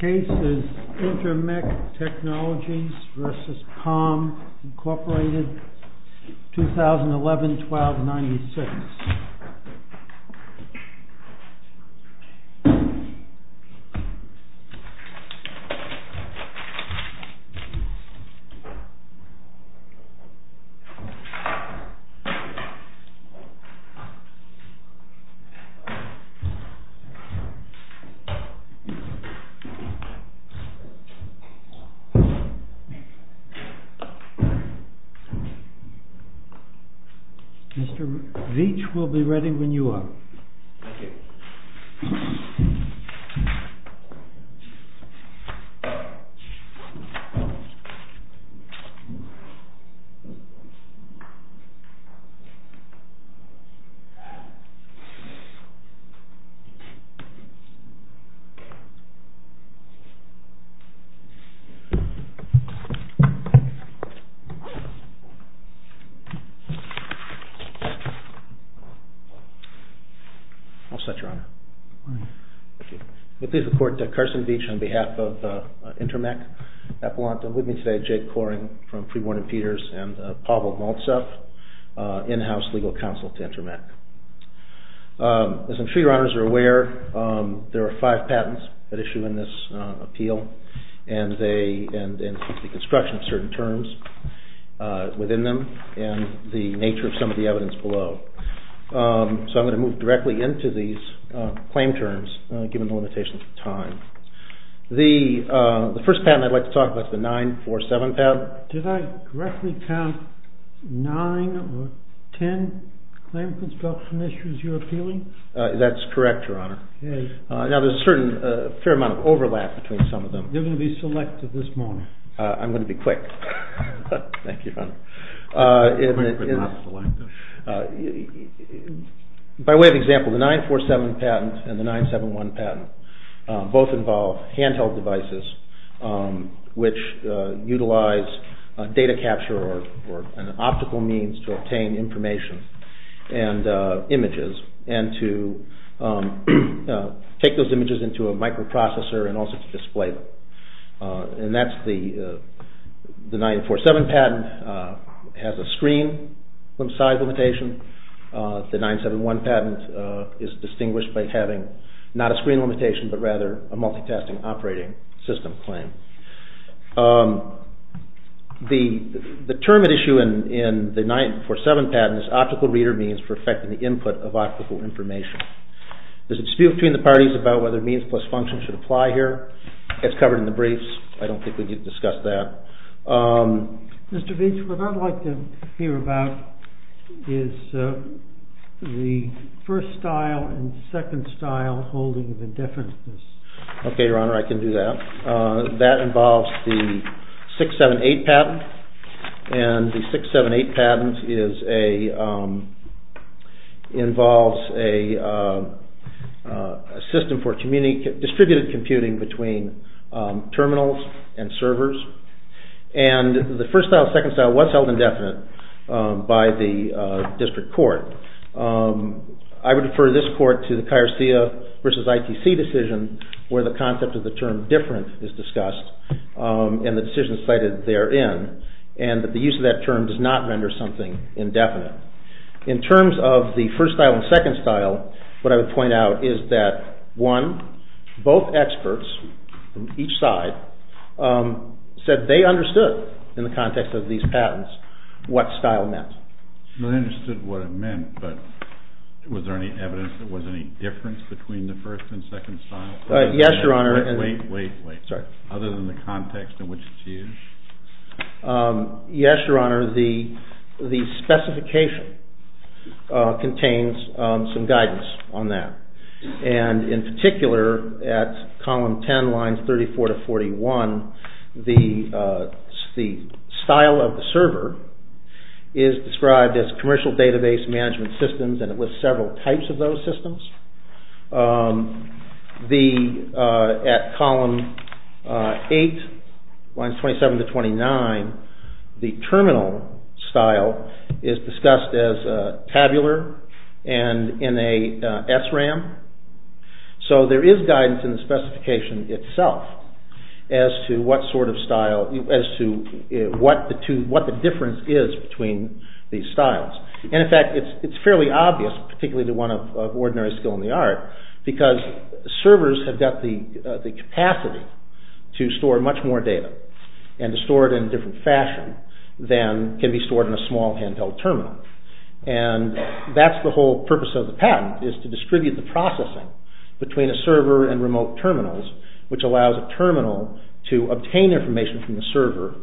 2011-12-96 Mr. Veech will be ready when you are. I'll start, Your Honor. I'm pleased to report to Carson Veech on behalf of INTERMEC Appellant. I'm with me today, Jake Coring from Pre-Warning Peters and Pavel Maltsev, in-house legal counsel to INTERMEC. As I'm sure Your Honors are aware, there are five patents that issue in this appeal, and the construction of certain terms within them and the nature of some of the evidence below. So I'm going to move directly into these claim terms, given the limitations of time. The first patent I'd like to talk about is the 947 patent. Did I correctly count nine or ten claim construction issues you're appealing? That's correct, Your Honor. Now there's a fair amount of overlap between some of them. They're going to be selected this morning. I'm going to be quick. Thank you, Your Honor. By way of example, the 947 patent and the 971 patent both involve handheld devices, which utilize data capture or an optical means to obtain information and images and to take those images into a microprocessor and also to display them. And that's the 947 patent has a screen size limitation. The 971 patent is distinguished by having not a screen limitation but rather a multitasking operating system claim. The term at issue in the 947 patent is optical reader means for effecting the input of optical information. There's a dispute between the parties about whether means plus function should apply here. It's covered in the briefs. I don't think we need to discuss that. Mr. Beach, what I'd like to hear about is the first style and second style holding of indifference. Okay, Your Honor, I can do that. That involves the 678 patent. And the 678 patent involves a system for distributed computing between terminals and servers. And the first style and second style was held indefinite by the district court. I would refer this court to the Kyrstia v. ITC decision where the concept of the term different is discussed and the decision cited therein and that the use of that term does not render something indefinite. In terms of the first style and second style, what I would point out is that one, both experts from each side said they understood in the context of these patents what style meant. They understood what it meant, but was there any evidence there was any difference between the first and second style? Yes, Your Honor. Wait, wait, wait. Other than the context in which it's used? Yes, Your Honor. The specification contains some guidance on that. And in particular, at column 10, lines 34 to 41, the style of the server is described as commercial database management systems and it lists several types of those systems. At column 8, lines 27 to 29, the terminal style is discussed as tabular and in a SRAM. So there is guidance in the specification itself as to what sort of style, as to what the difference is between these styles. And in fact, it's fairly obvious, particularly the one of ordinary skill in the art, because servers have got the capacity to store much more data and to store it in a different fashion than can be stored in a small handheld terminal. And that's the whole purpose of the patent, is to distribute the processing between a server and remote terminals, which allows a terminal to obtain information from the server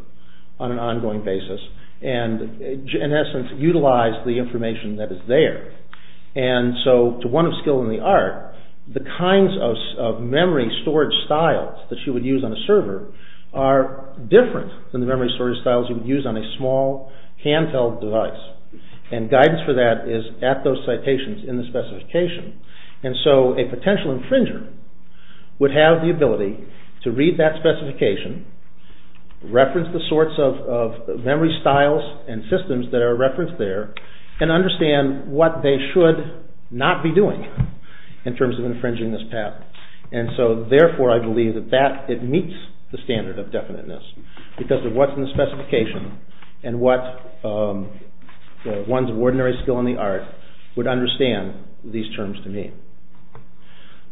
on an ongoing basis and in essence, utilize the information that is there. And so, to one of skill in the art, the kinds of memory storage styles that you would use on a server are different than the memory storage styles you would use on a small handheld device. And guidance for that is at those citations in the specification. And so, a potential infringer would have the ability to read that specification, reference the sorts of memory styles and systems that are referenced there, and understand what they should not be doing in terms of infringing this patent. And so, therefore, I believe that it meets the standard of definiteness, because of what's in the specification and what one's ordinary skill in the art would understand these terms to mean.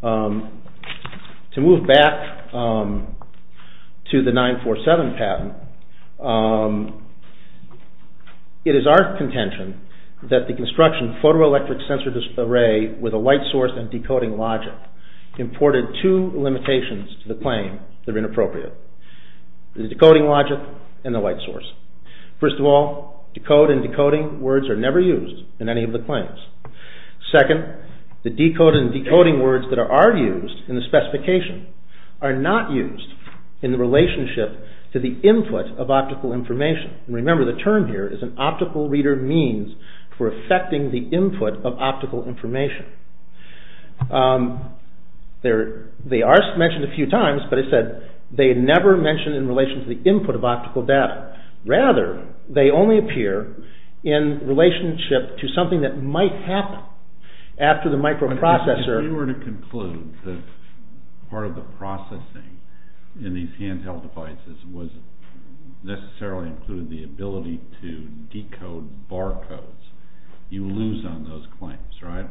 To move back to the 947 patent, it is our contention that the construction photoelectric sensor array with a light source and decoding logic imported two limitations to the claim that are inappropriate. The decoding logic and the light source. First of all, decode and decoding words are never used in any of the claims. Second, the decode and decoding words that are used in the specification are not used in the relationship to the input of optical information. And remember, the term here is an optical reader means for affecting the input of optical information. They are mentioned a few times, but as I said, they never mention in relation to the input of optical data. Rather, they only appear in relationship to something that might happen after the microprocessor... If you were to conclude that part of the processing in these handheld devices was necessarily included the ability to decode barcodes, you lose on those claims, right?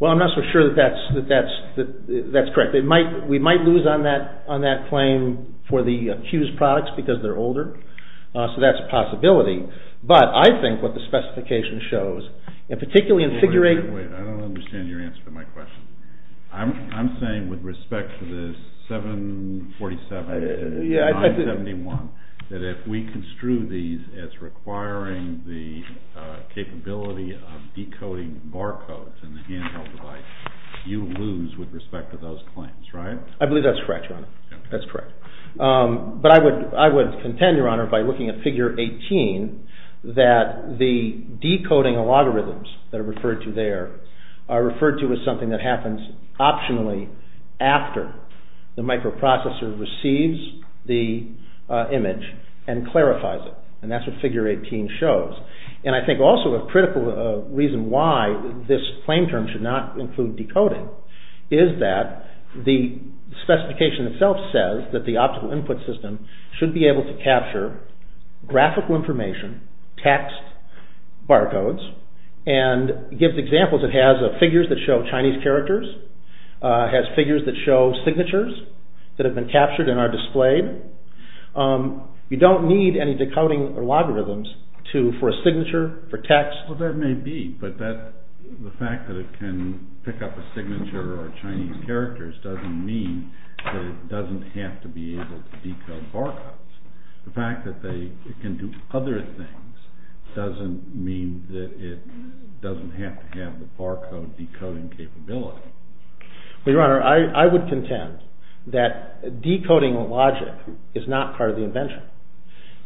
Well, I'm not so sure that that's correct. We might lose on that claim for the accused products because they're older, so that's a possibility. But I think what the specification shows, and particularly in... Wait, I don't understand your answer to my question. I'm saying with respect to the 747 and 971, that if we construe these as requiring the capability of decoding barcodes in the handheld device, you lose with respect to those claims, right? I believe that's correct, Your Honor. That's correct. But I would contend, Your Honor, by looking at Figure 18, that the decoding of logarithms that are referred to there are referred to as something that happens optionally after the microprocessor receives the image and clarifies it. And that's what Figure 18 shows. And I think also a critical reason why this claim term should not include decoding is that the specification itself says that the optical input system should be able to capture graphical information, text, barcodes, and gives examples it has of figures that show Chinese characters, has figures that show signatures that have been captured and are displayed. You don't need any decoding of logarithms for a signature, for text. Well, that may be, but the fact that it can pick up a signature or Chinese characters doesn't mean that it doesn't have to be able to decode barcodes. The fact that it can do other things doesn't mean that it doesn't have to have the barcode decoding capability. Well, Your Honor, I would contend that decoding logic is not part of the invention.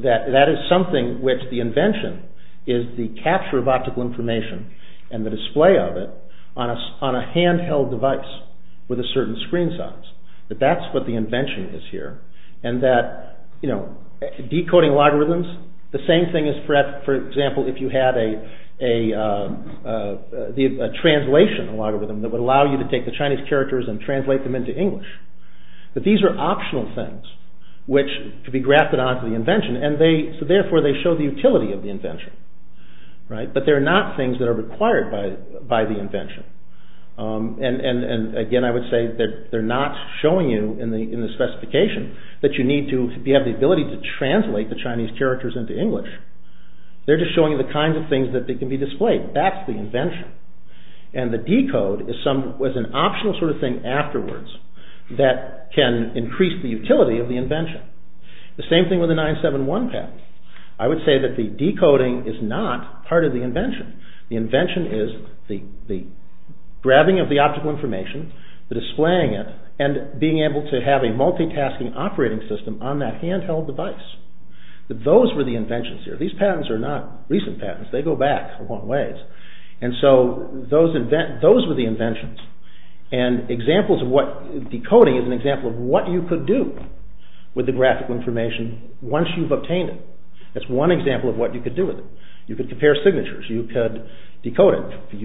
That is something which the invention is the capture of optical information and the display of it on a handheld device with a certain screen size. But that's what the invention is here. And that, you know, decoding logarithms, the same thing as, for example, if you had a translation logarithm that would allow you to take the Chinese characters and translate them into English. But these are optional things which could be grafted onto the invention and so therefore they show the utility of the invention. But they're not things that are required by the invention. And again, I would say that they're not showing you in the specification that you need to have the ability to translate the Chinese characters into English. They're just showing you the kinds of things that can be displayed. That's the invention. And the decode is an optional sort of thing afterwards that can increase the utility of the invention. The same thing with the 971 pad. I would say that the decoding is not part of the invention. The invention is the grabbing of the optical information, the displaying it, and being able to have a multitasking operating system on that handheld device. Those were the inventions here. These patents are not recent patents. They go back a long ways. And so those were the inventions. And decoding is an example of what you could do with the graphical information once you've obtained it. That's one example of what you could do with it. You could compare signatures. You could decode it.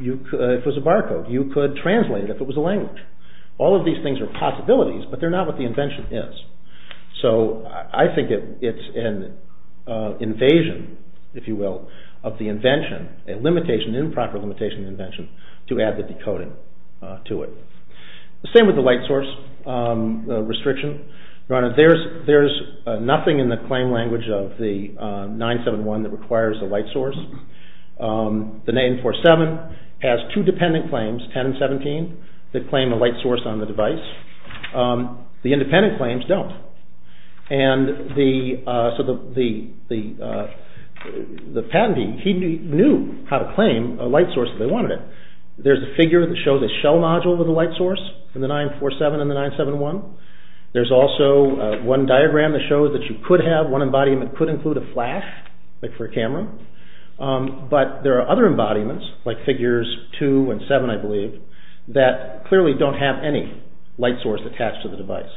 It was a barcode. You could translate it if it was a language. All of these things are possibilities, but they're not what the invention is. So I think it's an invasion, if you will, of the invention, a limitation, improper limitation of the invention, to add the decoding to it. The same with the light source restriction. Your Honor, there's nothing in the claim language of the 971 that requires the light source. The 947 has two dependent claims, 10 and 17, that claim a light source on the device. The independent claims don't. And so the patentee, he knew how to claim a light source if they wanted it. There's a figure that shows a shell module with a light source in the 947 and the 971. There's also one diagram that shows that you could have one embodiment that could include a flash, like for a camera. But there are other embodiments, like figures 2 and 7, I believe, that clearly don't have any light source attached to the device.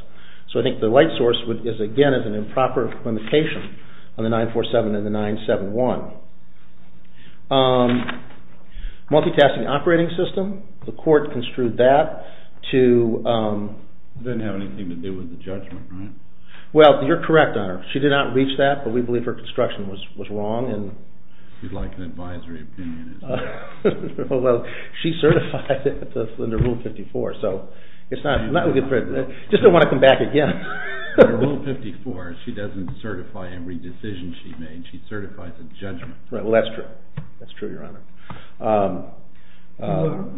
So I think the light source, again, is an improper limitation on the 947 and the 971. Multitasking operating system, the court construed that to... It didn't have anything to do with the judgment, right? Well, you're correct, Your Honor. She did not reach that, but we believe her construction was wrong. She's like an advisory opinionist. Well, she certified it under Rule 54, so it's not... I just don't want to come back again. Under Rule 54, she doesn't certify every decision she made. She certifies a judgment. Well, that's true. That's true, Your Honor.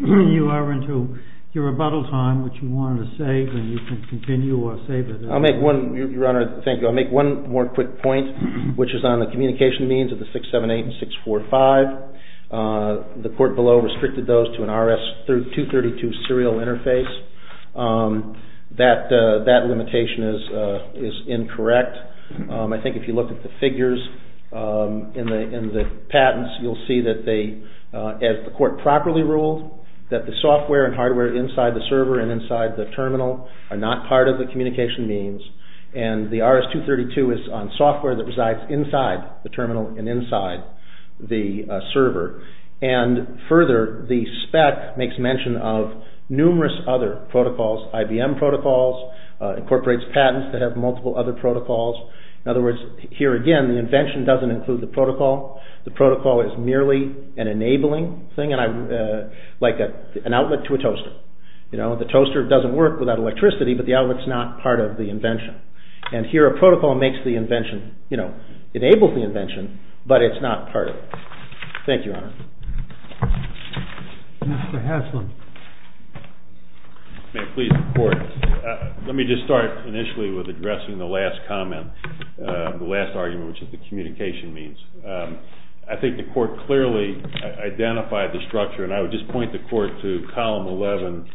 You are into your rebuttal time, which you wanted to save, and you can continue or save it. I'll make one more quick point, which is on the communication means of the 678 and 645. The court below restricted those to an RS-232 serial interface. That limitation is incorrect. I think if you look at the figures in the patents, you'll see that they, as the court properly ruled, that the software and hardware inside the server and inside the terminal are not part of the communication means, and the RS-232 is on software that resides inside the terminal and inside the server. And further, the spec makes mention of numerous other protocols, IBM protocols, incorporates patents that have multiple other protocols. In other words, here again, the invention doesn't include the protocol. The protocol is merely an enabling thing, like an outlet to a toaster. The toaster doesn't work without electricity, but the outlet's not part of the invention. And here a protocol makes the invention, enables the invention, but it's not part of it. Thank you, Your Honor. Mr. Haslund. May it please the Court. Let me just start initially with addressing the last comment, the last argument, which is the communication means. I think the Court clearly identified the structure, and I would just point the Court to column 11,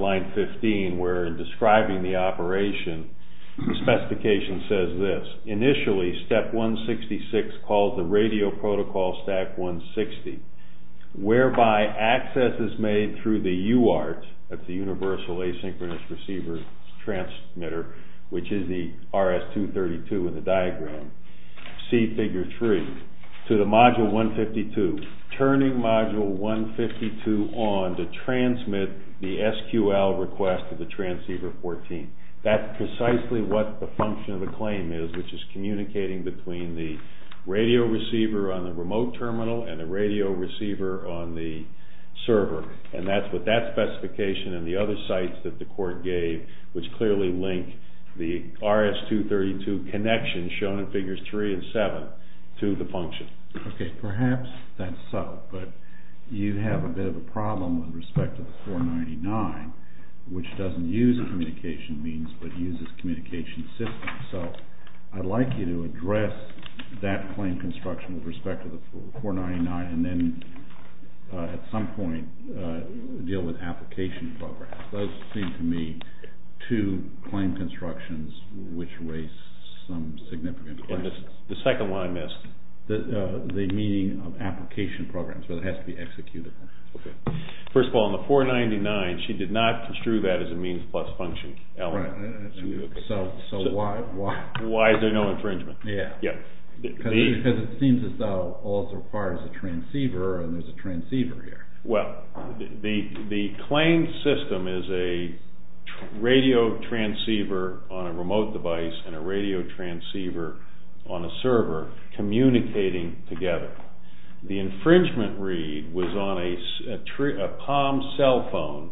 line 15, where in describing the operation, the specification says this. Initially, step 166 calls the radio protocol stack 160, whereby access is made through the UART, that's the Universal Asynchronous Receiver Transmitter, which is the RS-232 in the diagram. See figure 3. To the module 152, turning module 152 on to transmit the SQL request to the transceiver 14. That's precisely what the function of the claim is, which is communicating between the radio receiver on the remote terminal and the radio receiver on the server. And that's what that specification and the other sites that the Court gave, which clearly link the RS-232 connection, shown in figures 3 and 7, to the function. Okay, perhaps that's subtle, but you have a bit of a problem with respect to the 499, which doesn't use communication means but uses communication systems. So I'd like you to address that claim construction with respect to the 499 and then at some point deal with application programs. Those seem to me to claim constructions which raise some significant questions. And the second one I missed. The meaning of application programs, but it has to be executed. Okay. First of all, on the 499, she did not construe that as a means plus function element. Right. So why? Why is there no infringement? Yeah. Because it seems as though all that's required is a transceiver, and there's a transceiver here. Well, the claim system is a radio transceiver on a remote device and a radio transceiver on a server communicating together. The infringement read was on a Palm cell phone,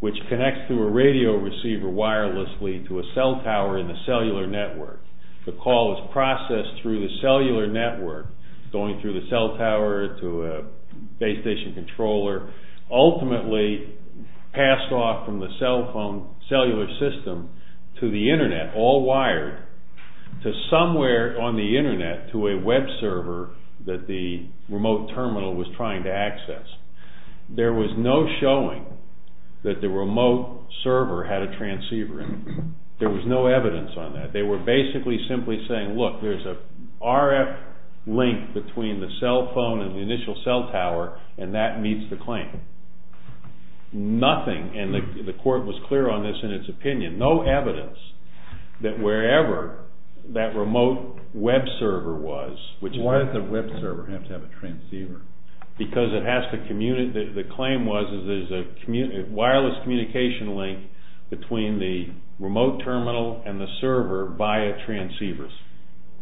which connects to a radio receiver wirelessly to a cell tower in the cellular network. The call is processed through the cellular network, going through the cell tower to a base station controller, ultimately passed off from the cellular system to the Internet, all wired to somewhere on the Internet to a web server that the remote terminal was trying to access. There was no showing that the remote server had a transceiver in it. There was no evidence on that. They were basically simply saying, look, there's a RF link between the cell phone and the initial cell tower, and that meets the claim. Nothing, and the court was clear on this in its opinion, no evidence that wherever that remote web server was, Why does the web server have to have a transceiver? Because it has to communicate. The claim was that there's a wireless communication link between the remote terminal and the server via transceivers.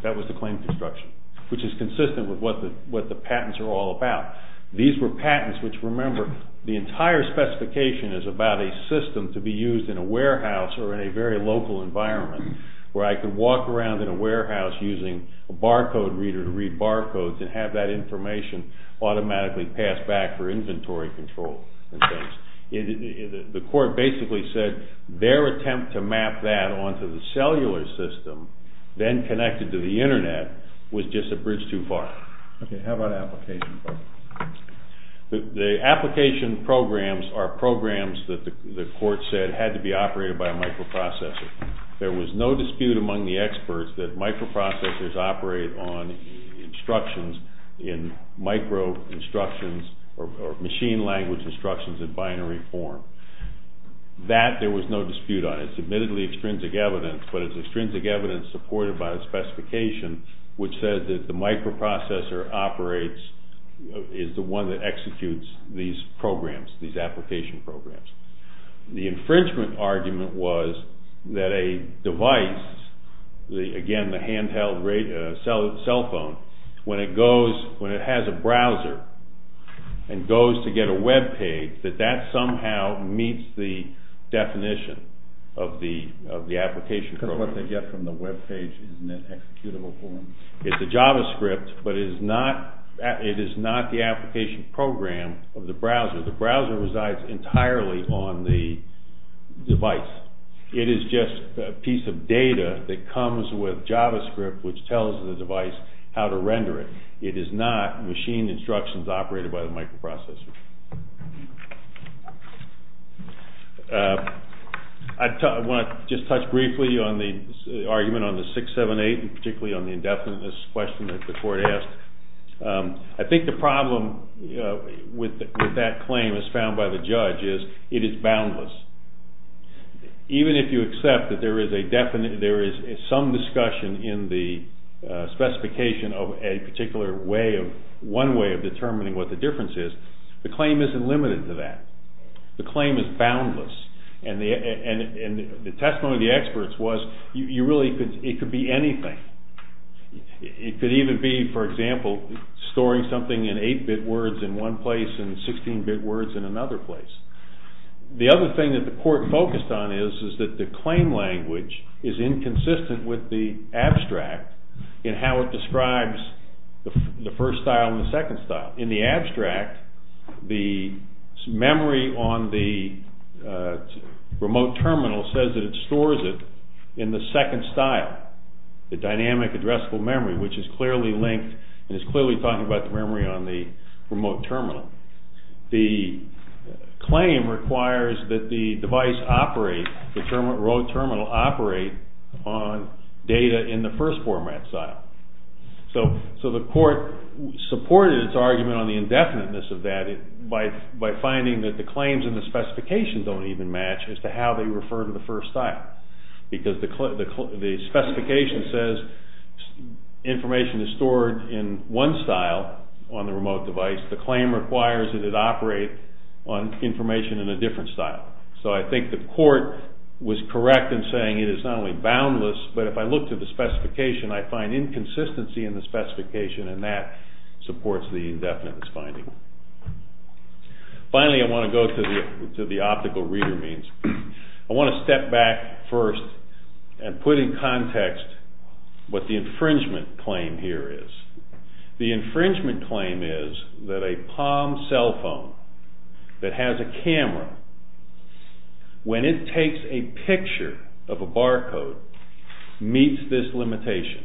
That was the claim construction, which is consistent with what the patents are all about. These were patents which, remember, the entire specification is about a system to be used in a warehouse or in a very local environment where I could walk around in a warehouse using a barcode reader to read barcodes and have that information automatically passed back for inventory control. The court basically said their attempt to map that onto the cellular system, then connected to the internet, was just a bridge too far. Okay, how about application programs? The application programs are programs that the court said had to be operated by a microprocessor. There was no dispute among the experts that microprocessors operate on instructions in micro-instructions or machine language instructions in binary form. That there was no dispute on. It's admittedly extrinsic evidence, but it's extrinsic evidence supported by the specification which said that the microprocessor operates, is the one that executes these programs, these application programs. The infringement argument was that a device, again, the handheld cell phone, when it goes, when it has a browser and goes to get a webpage, that that somehow meets the definition of the application program. Because what they get from the webpage is in an executable form. It's a JavaScript, but it is not the application program of the browser. The browser resides entirely on the device. It is just a piece of data that comes with JavaScript which tells the device how to render it. It is not machine instructions operated by the microprocessor. I want to just touch briefly on the argument on the 678 and particularly on the indefiniteness question that the court asked. I think the problem with that claim as found by the judge is it is boundless. Even if you accept that there is some discussion in the specification of a particular way, one way of determining what the difference is, the claim isn't limited to that. The claim is boundless. The testimony of the experts was, it could be anything. It could even be, for example, storing something in 8-bit words in one place and 16-bit words in another place. The other thing that the court focused on is that the claim language is inconsistent with the abstract in how it describes the first style and the second style. In the abstract, the memory on the remote terminal says that it stores it in the second style, the dynamic addressable memory, which is clearly linked and is clearly talking about the memory on the remote terminal. The claim requires that the device operate, the road terminal operate, on data in the first format style. So the court supported its argument on the indefiniteness of that by finding that the claims in the specifications don't even match as to how they refer to the first style because the specification says information is stored in one style on the remote device. The claim requires that it operate on information in a different style. So I think the court was correct in saying it is not only boundless, but if I look to the specification, I find inconsistency in the specification and that supports the indefiniteness finding. Finally, I want to go to the optical reader means. I want to step back first and put in context what the infringement claim here is. The infringement claim is that a Palm cell phone that has a camera, when it takes a picture of a barcode, meets this limitation.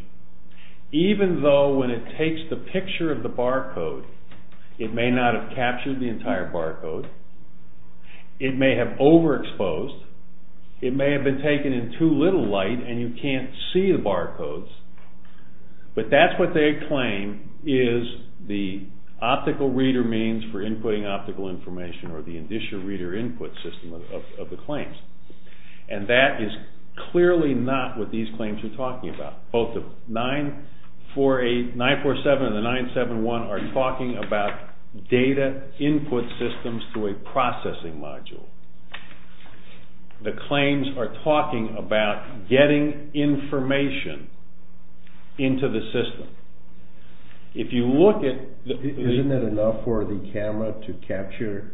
Even though when it takes the picture of the barcode, it may not have captured the entire barcode, it may have overexposed, it may have been taken in too little light and you can't see the barcodes, but that's what they claim is the optical reader means for inputting optical information or the indicia reader input system of the claims. And that is clearly not what these claims are talking about. Both the 947 and the 971 are talking about data input systems through a processing module. The claims are talking about getting information into the system. If you look at... Isn't that enough for the camera to capture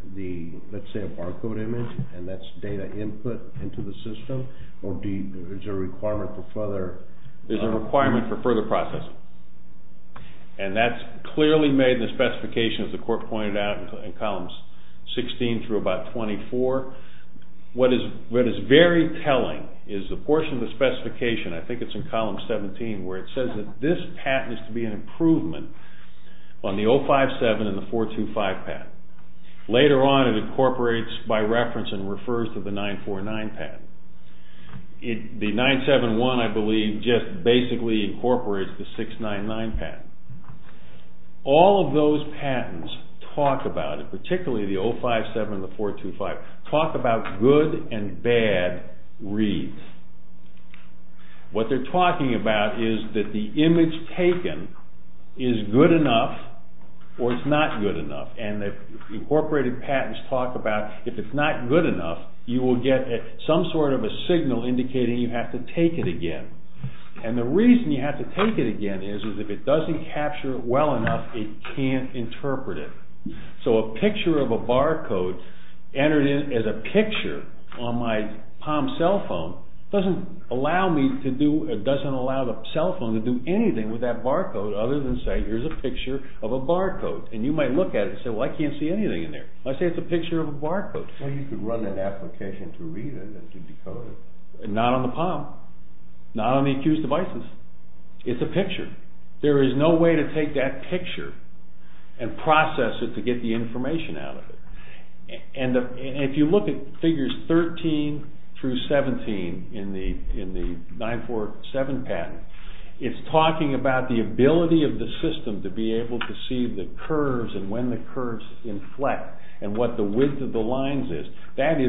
let's say a barcode image and that's data input into the system or is there a requirement for further... There's a requirement for further processing. And that's clearly made the specification as the court pointed out in columns 16 through about 24. What is very telling is the portion of the specification, I think it's in column 17, where it says that this patent is to be an improvement on the 057 and the 425 patent. Later on it incorporates by reference and refers to the 949 patent. The 971 I believe just basically incorporates the 699 patent. All of those patents talk about it, particularly the 057 and the 425, talk about good and bad reads. What they're talking about is that the image taken is good enough or it's not good enough. And the incorporated patents talk about if it's not good enough you will get some sort of a signal indicating you have to take it again. And the reason you have to take it again is if it doesn't capture it well enough it can't interpret it. So a picture of a barcode entered in as a picture on my POM cell phone doesn't allow the cell phone to do anything with that barcode other than say here's a picture of a barcode. And you might look at it and say well I can't see anything in there. I say it's a picture of a barcode. Not on the POM. Not on the accused's devices. It's a picture. There is no way to take that picture and process it to get the information out of it. And if you look at figures 13 through 17 in the 947 patent it's talking about the ability of the system to be able to see the curves and when the curves inflect and what the width of the lines is. That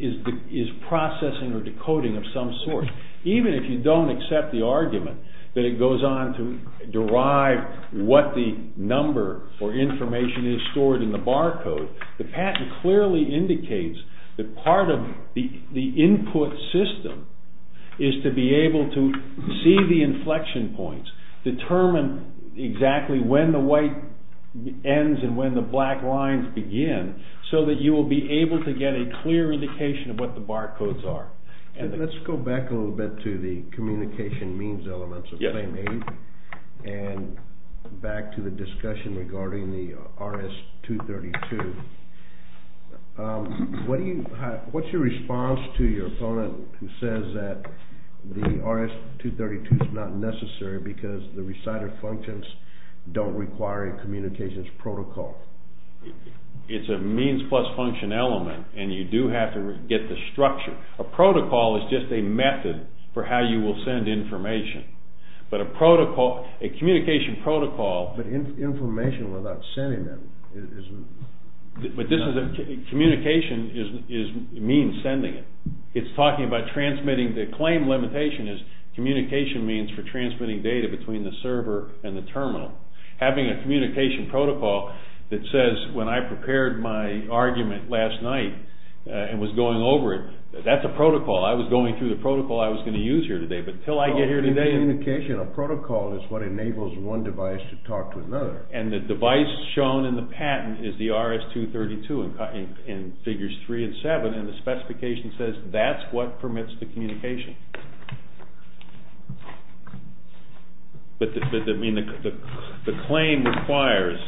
is processing or decoding of some sort. Even if you don't accept the argument that it goes on to derive what the number or information is stored in the barcode, the patent clearly indicates that part of the input system is to be able to see the inflection points. Determine exactly when the white ends and when the black lines begin so that you will be able to get a clear indication of what the barcodes are. Let's go back a little bit to the communication means elements of Claim 8 and back to the discussion regarding the RS-232. What's your response to your opponent who says that the RS-232 is not necessary because the reciter functions don't require a communications protocol? It's a means plus function element and you do have to get the structure. A protocol is just a method for how you will send information. But a communication protocol... But information without sending it is not... Communication means sending it. It's talking about transmitting. The claim limitation is communication means for transmitting data between the server and the terminal. Having a communication protocol that says when I prepared my argument last night and was going over it that's a protocol. I was going through the protocol I was going to use here today but until I get here today... A communication protocol is what enables one device to talk to another. And the device shown in the patent is the RS-232 in Figures 3 and 7 and the specification says that's what permits the communication. But the claim requires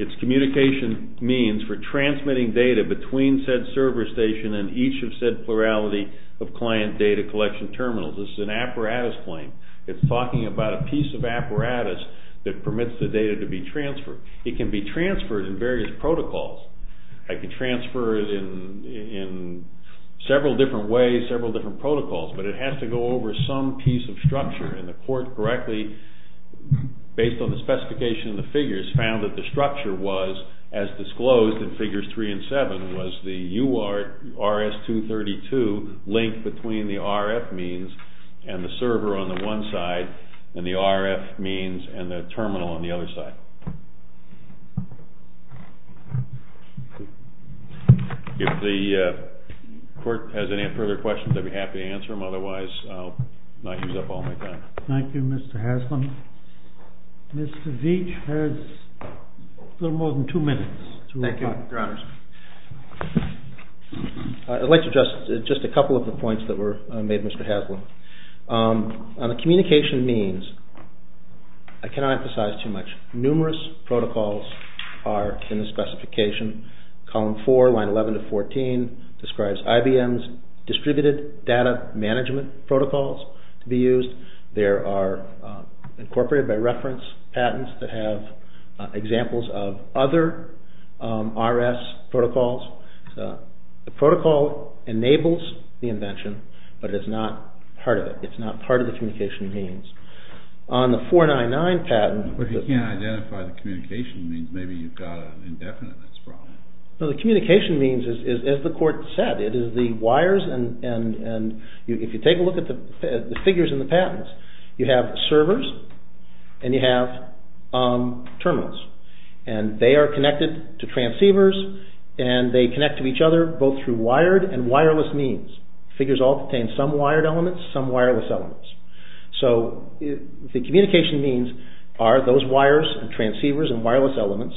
its communication means for transmitting data between said server station and each of said plurality of client data collection terminals. This is an apparatus claim. It's talking about a piece of apparatus that permits the data to be transferred. It can be transferred in various protocols. I can transfer it in several different ways, several different protocols, but it has to go over some piece of structure and the court correctly based on the specification of the figures found that the structure was, as disclosed in Figures 3 and 7, was the RS-232 linked between the RF means and the server on the one side and the RF means and the terminal on the other side. If the court has any further questions, I'd be happy to answer them. Otherwise, I'll not use up all my time. Thank you, Mr. Haslam. Mr. Veach has a little more than two minutes. Thank you, Your Honors. I'd like to address just a couple of the points that were made, Mr. Haslam. On the communication means, I cannot emphasize too much. Numerous protocols are in the specification. Column 4, Line 11 to 14, describes IBM's distributed data management protocols to be used. They are incorporated by reference patents that have examples of other RS protocols. The protocol enables the invention, but it's not part of it. It's not part of the communication means. On the 499 patent, the communication means is as the court said, it is the wires and if you take a look at the figures in the patents, you have servers and you have terminals. They are connected to transceivers and they connect to each other both through wired and wireless means. Figures all contain some wired elements, some wireless elements. So the communication means are those wires and transceivers and wireless elements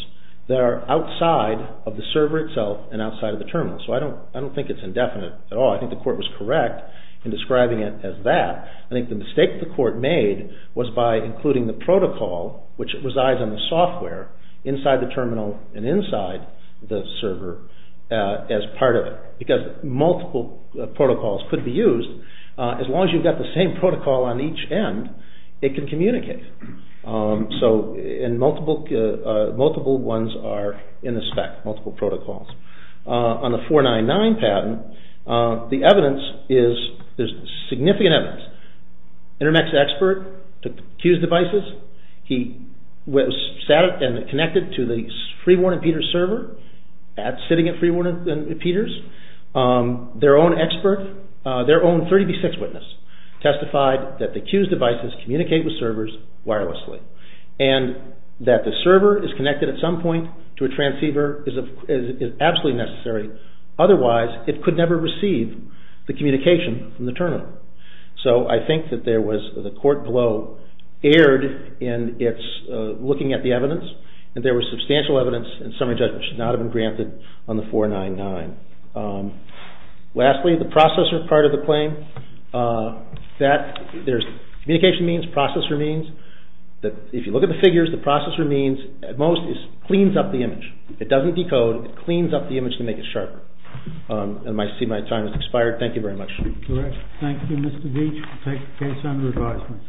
that are outside of the server itself and outside of the terminal. So I don't think it's indefinite at all. I think the court was correct in describing it as that. I think the mistake the court made was by including the protocol which resides on the software inside the terminal and inside the server as part of it. Because multiple protocols could be used. As long as you've got the same protocol on each end, it can communicate. So multiple ones are in the spec, multiple protocols. On the 499 patent, the evidence is, there's significant evidence. Intermex expert took the Q's devices. He sat and connected to the Freeborn and Peters server. That's sitting at Freeborn and their own 30B6 witness testified that the Q's devices communicate with servers wirelessly and that the server is connected at some point to a transceiver is absolutely necessary. Otherwise, it could never receive the communication from the terminal. So I think that there was the court blow erred in looking at the evidence and there was substantial evidence and summary judgment should not have been granted on the 499. Lastly, the processor part of the claim. Communication means, processor means that if you look at the figures, the processor means at most, it cleans up the image. It doesn't decode. It cleans up the image to make it sharper. I see my time has expired. Thank you very much. Thank you Mr. Veach. We'll take the case under advisement.